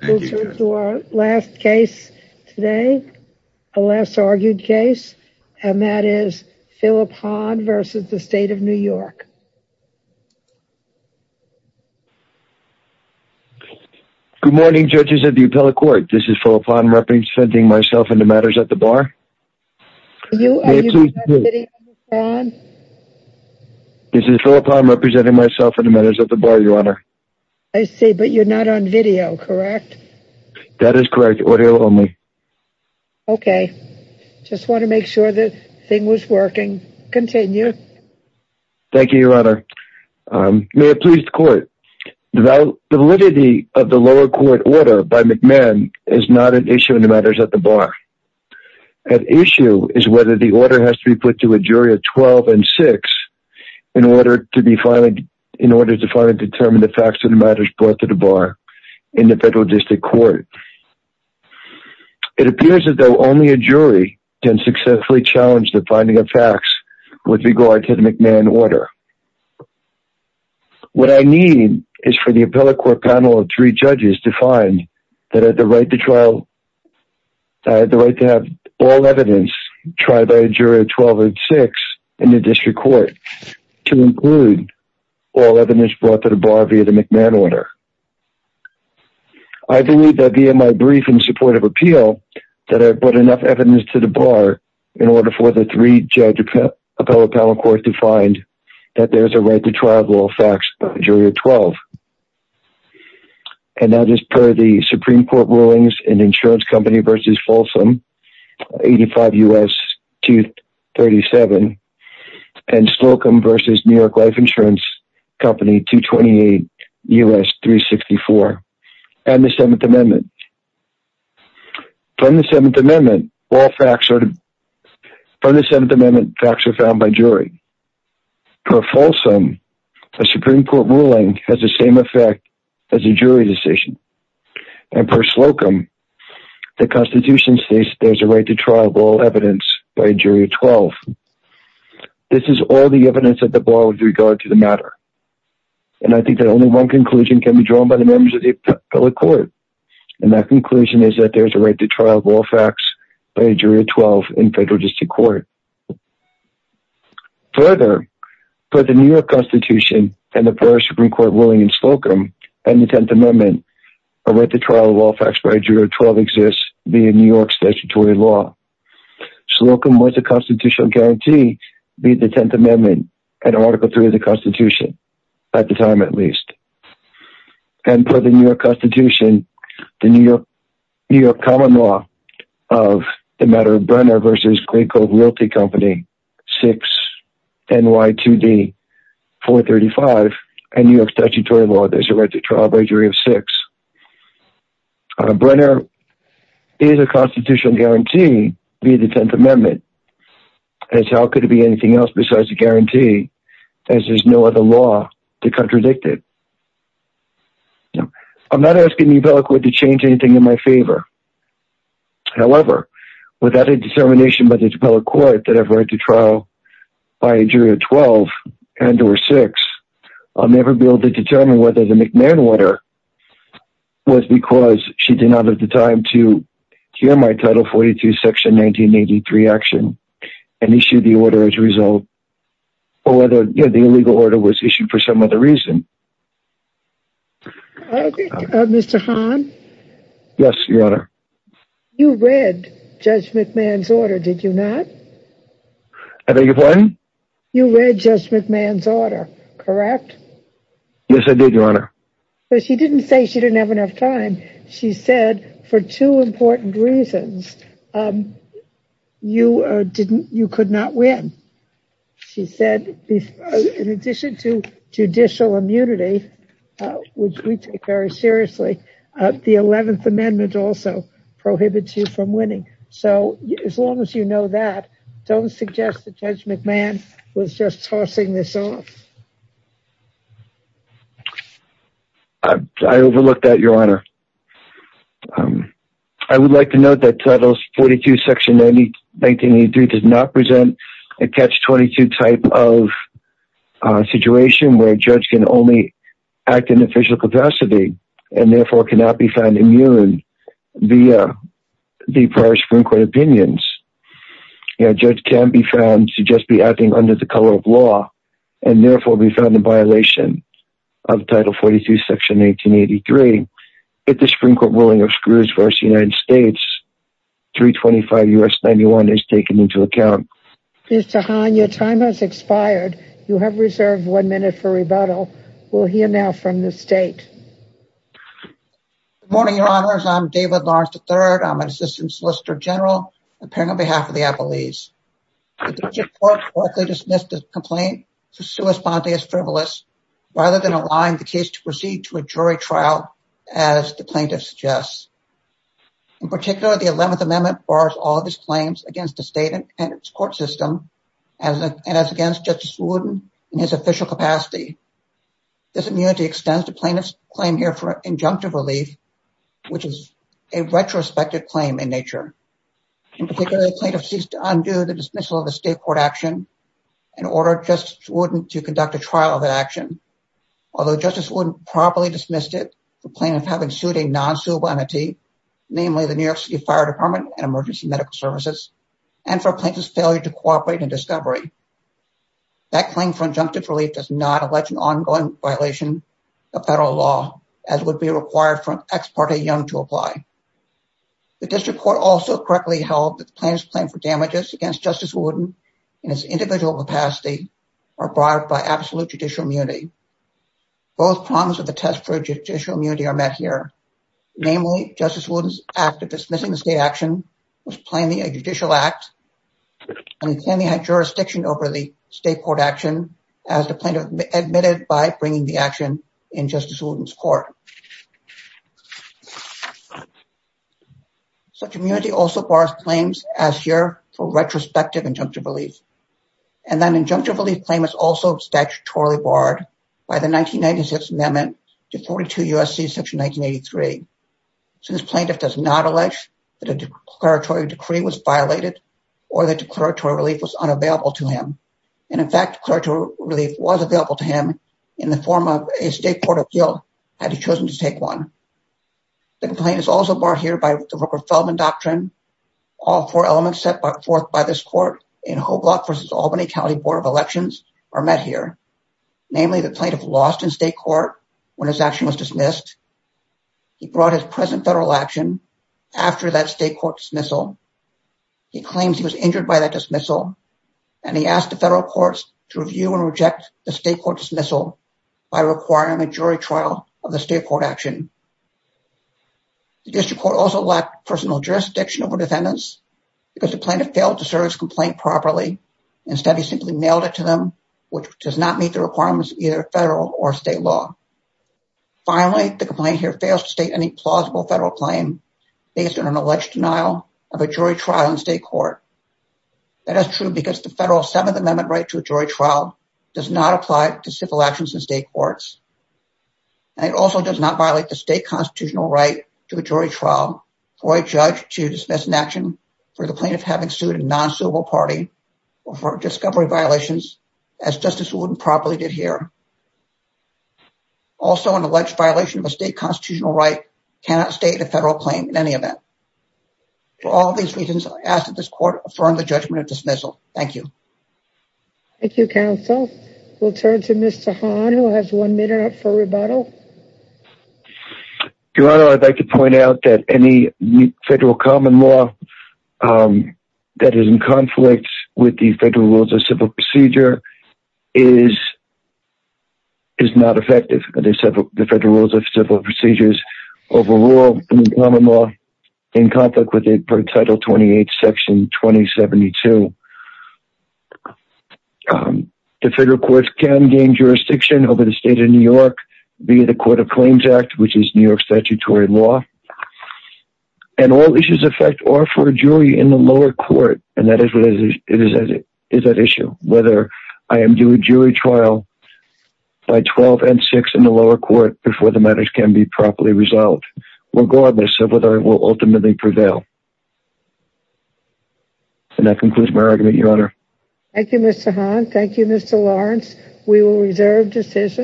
to our last case today. A less argued case. And that is Philip Han versus the state of New York. Good morning judges of the appellate court. This is full upon representing myself in the matters at the bar. This is full upon representing myself in the matters at the bar your honor. I see but you're not on video correct? That is correct audio only. Okay just want to make sure that thing was working. Continue. Thank you your honor. May it please the court. The validity of the lower court order by McMahon is not an issue in the matters at the bar. At issue is whether the order has to be put to a jury of 12 and 6 in order to be finally in order to finally determine the facts of the matters brought to the bar in the federal district court. It appears as though only a jury can successfully challenge the finding of facts with regard to the McMahon order. What I need is for the appellate court panel of three judges to find that at the right to trial the right to have all evidence tried by a jury of 12 and 6 in the district court to include all evidence brought to the bar via the McMahon order. I believe that via my brief in support of appeal that I put enough evidence to the bar in order for the three judge appellate panel court to find that there's a right to trial of all facts by the jury of 12. And that is per the Supreme Court ruling US 237 and Slocum versus New York Life Insurance Company 228 US 364 and the 7th Amendment. From the 7th Amendment all facts are from the 7th Amendment facts are found by jury. Per Folsom a Supreme Court ruling has the same effect as a jury decision and per Slocum the Constitution states there's a right to trial of all evidence by a jury of 12. This is all the evidence that the bar would regard to the matter and I think that only one conclusion can be drawn by the members of the appellate court and that conclusion is that there's a right to trial of all facts by a jury of 12 in federal district court. Further for the New York Constitution and the first Supreme Court ruling in Slocum and the a right to trial of all facts by a jury of 12 exists via New York statutory law. Slocum was a constitutional guarantee via the 10th Amendment and Article 3 of the Constitution at the time at least. And per the New York Constitution the New York New York common law of the matter of Brenner versus Greco Realty Company 6 NY 2D 435 and New York statutory law there's a right to trial by jury of 6. Brenner is a constitutional guarantee via the 10th Amendment as how could it be anything else besides a guarantee as there's no other law to contradict it. I'm not asking the appellate court to change anything in my favor however without a determination by the appellate court that I've read to trial by a jury of 12 and or 6 I'll never be able to determine whether the McMahon order was because she did not at the time to hear my title 42 section 1983 action and issue the order as a result or whether the illegal order was issued for some other reason. Mr. Hahn? Yes your honor. You read Judge McMahon's order did you not? I beg your pardon? You read Judge McMahon's order correct? Yes I did your honor. So she didn't say she didn't have enough time she said for two important reasons you didn't you could not win. She said in addition to judicial immunity which we take very don't suggest that Judge McMahon was just tossing this off. I overlooked that your honor. I would like to note that titles 42 section 1983 does not present a catch-22 type of situation where a judge can only act in official capacity and therefore cannot be found immune via the prior Supreme Court opinions. A judge can be found to just be acting under the color of law and therefore be found in violation of title 42 section 1883. If the Supreme Court willing obscures versus United States 325 U.S. 91 is taken into account. Mr. Hahn your time has expired you have reserved one minute for rebuttal. We'll hear now from the Good morning your honors. I'm David Lawrence III. I'm an assistant solicitor general appearing on behalf of the appellees. The court correctly dismissed the complaint to sue espontaneous frivolous rather than allowing the case to proceed to a jury trial as the plaintiff suggests. In particular the 11th amendment bars all of his claims against the state and its court system and as against Judge Swooden in his official capacity. This immunity extends the plaintiff's claim here for injunctive relief which is a retrospective claim in nature. In particular the plaintiff ceased to undo the dismissal of the state court action and ordered Justice Wooden to conduct a trial of that action. Although Justice Wooden properly dismissed it the plaintiff having sued a non-suitable entity namely the New York City Fire Department and Emergency Medical Services and for plaintiff's failure to cooperate in discovery. That claim for injunctive relief does not allege an ongoing violation of federal law as would be required for ex parte young to apply. The district court also correctly held that the plaintiff's claim for damages against Justice Wooden in its individual capacity are barred by absolute judicial immunity. Both problems of the test for judicial immunity are met here. Namely Justice Wooden's act of dismissing the state action was plainly a judicial act and he plainly had jurisdiction over the state court action as the plaintiff admitted by bringing the action in Justice Wooden's court. Such immunity also bars claims as here for retrospective injunctive relief and that injunctive relief claim is also statutorily barred by the 1996 amendment to 42 USC section 1983. Since plaintiff does not allege that a declaratory decree was violated or the relief was available to him in the form of a state court appeal had he chosen to take one. The complaint is also barred here by the Rooker-Feldman doctrine. All four elements set forth by this court in Hoblock v. Albany County Board of Elections are met here. Namely the plaintiff lost in state court when his action was dismissed. He brought his present federal action after that state court dismissal. He claims he was injured by that dismissal and he asked the federal courts to review and reject the state court dismissal by requiring a jury trial of the state court action. The district court also lacked personal jurisdiction over defendants because the plaintiff failed to serve his complaint properly. Instead he simply mailed it to them which does not meet the requirements either federal or state law. Finally the complaint here fails to state any plausible federal claim based on an alleged denial of a jury trial in state court. That is true because the federal Seventh Amendment right to a jury trial does not apply to civil actions in state courts and it also does not violate the state constitutional right to a jury trial for a judge to dismiss an action for the plaintiff having sued a non-suable party or for discovery violations as Justice Wooden properly did here. Also an alleged violation of a state constitutional right cannot state a federal claim in any event. For all these reasons I ask that this court affirm the judgment of dismissal. Thank you. Thank you counsel. We'll turn to Mr. Hahn who has one minute up for rebuttal. Your honor I'd like to point out that any federal common law that is in conflict with the federal rules of civil procedure is not effective. The federal rules of civil procedures overall in common law in conflict with it per title 28 section 2072. The federal courts can gain jurisdiction over the state of New York via the Court of Claims Act which is New York statutory law and all issues affect or for a jury in the lower court and that is that issue whether I am due a jury trial by 12 and 6 in the lower court before the matters can be properly resolved regardless of whether it will ultimately prevail. And that concludes my argument your honor. Thank you Mr. Hahn. Thank you Mr. Lawrence. We will reserve decisions.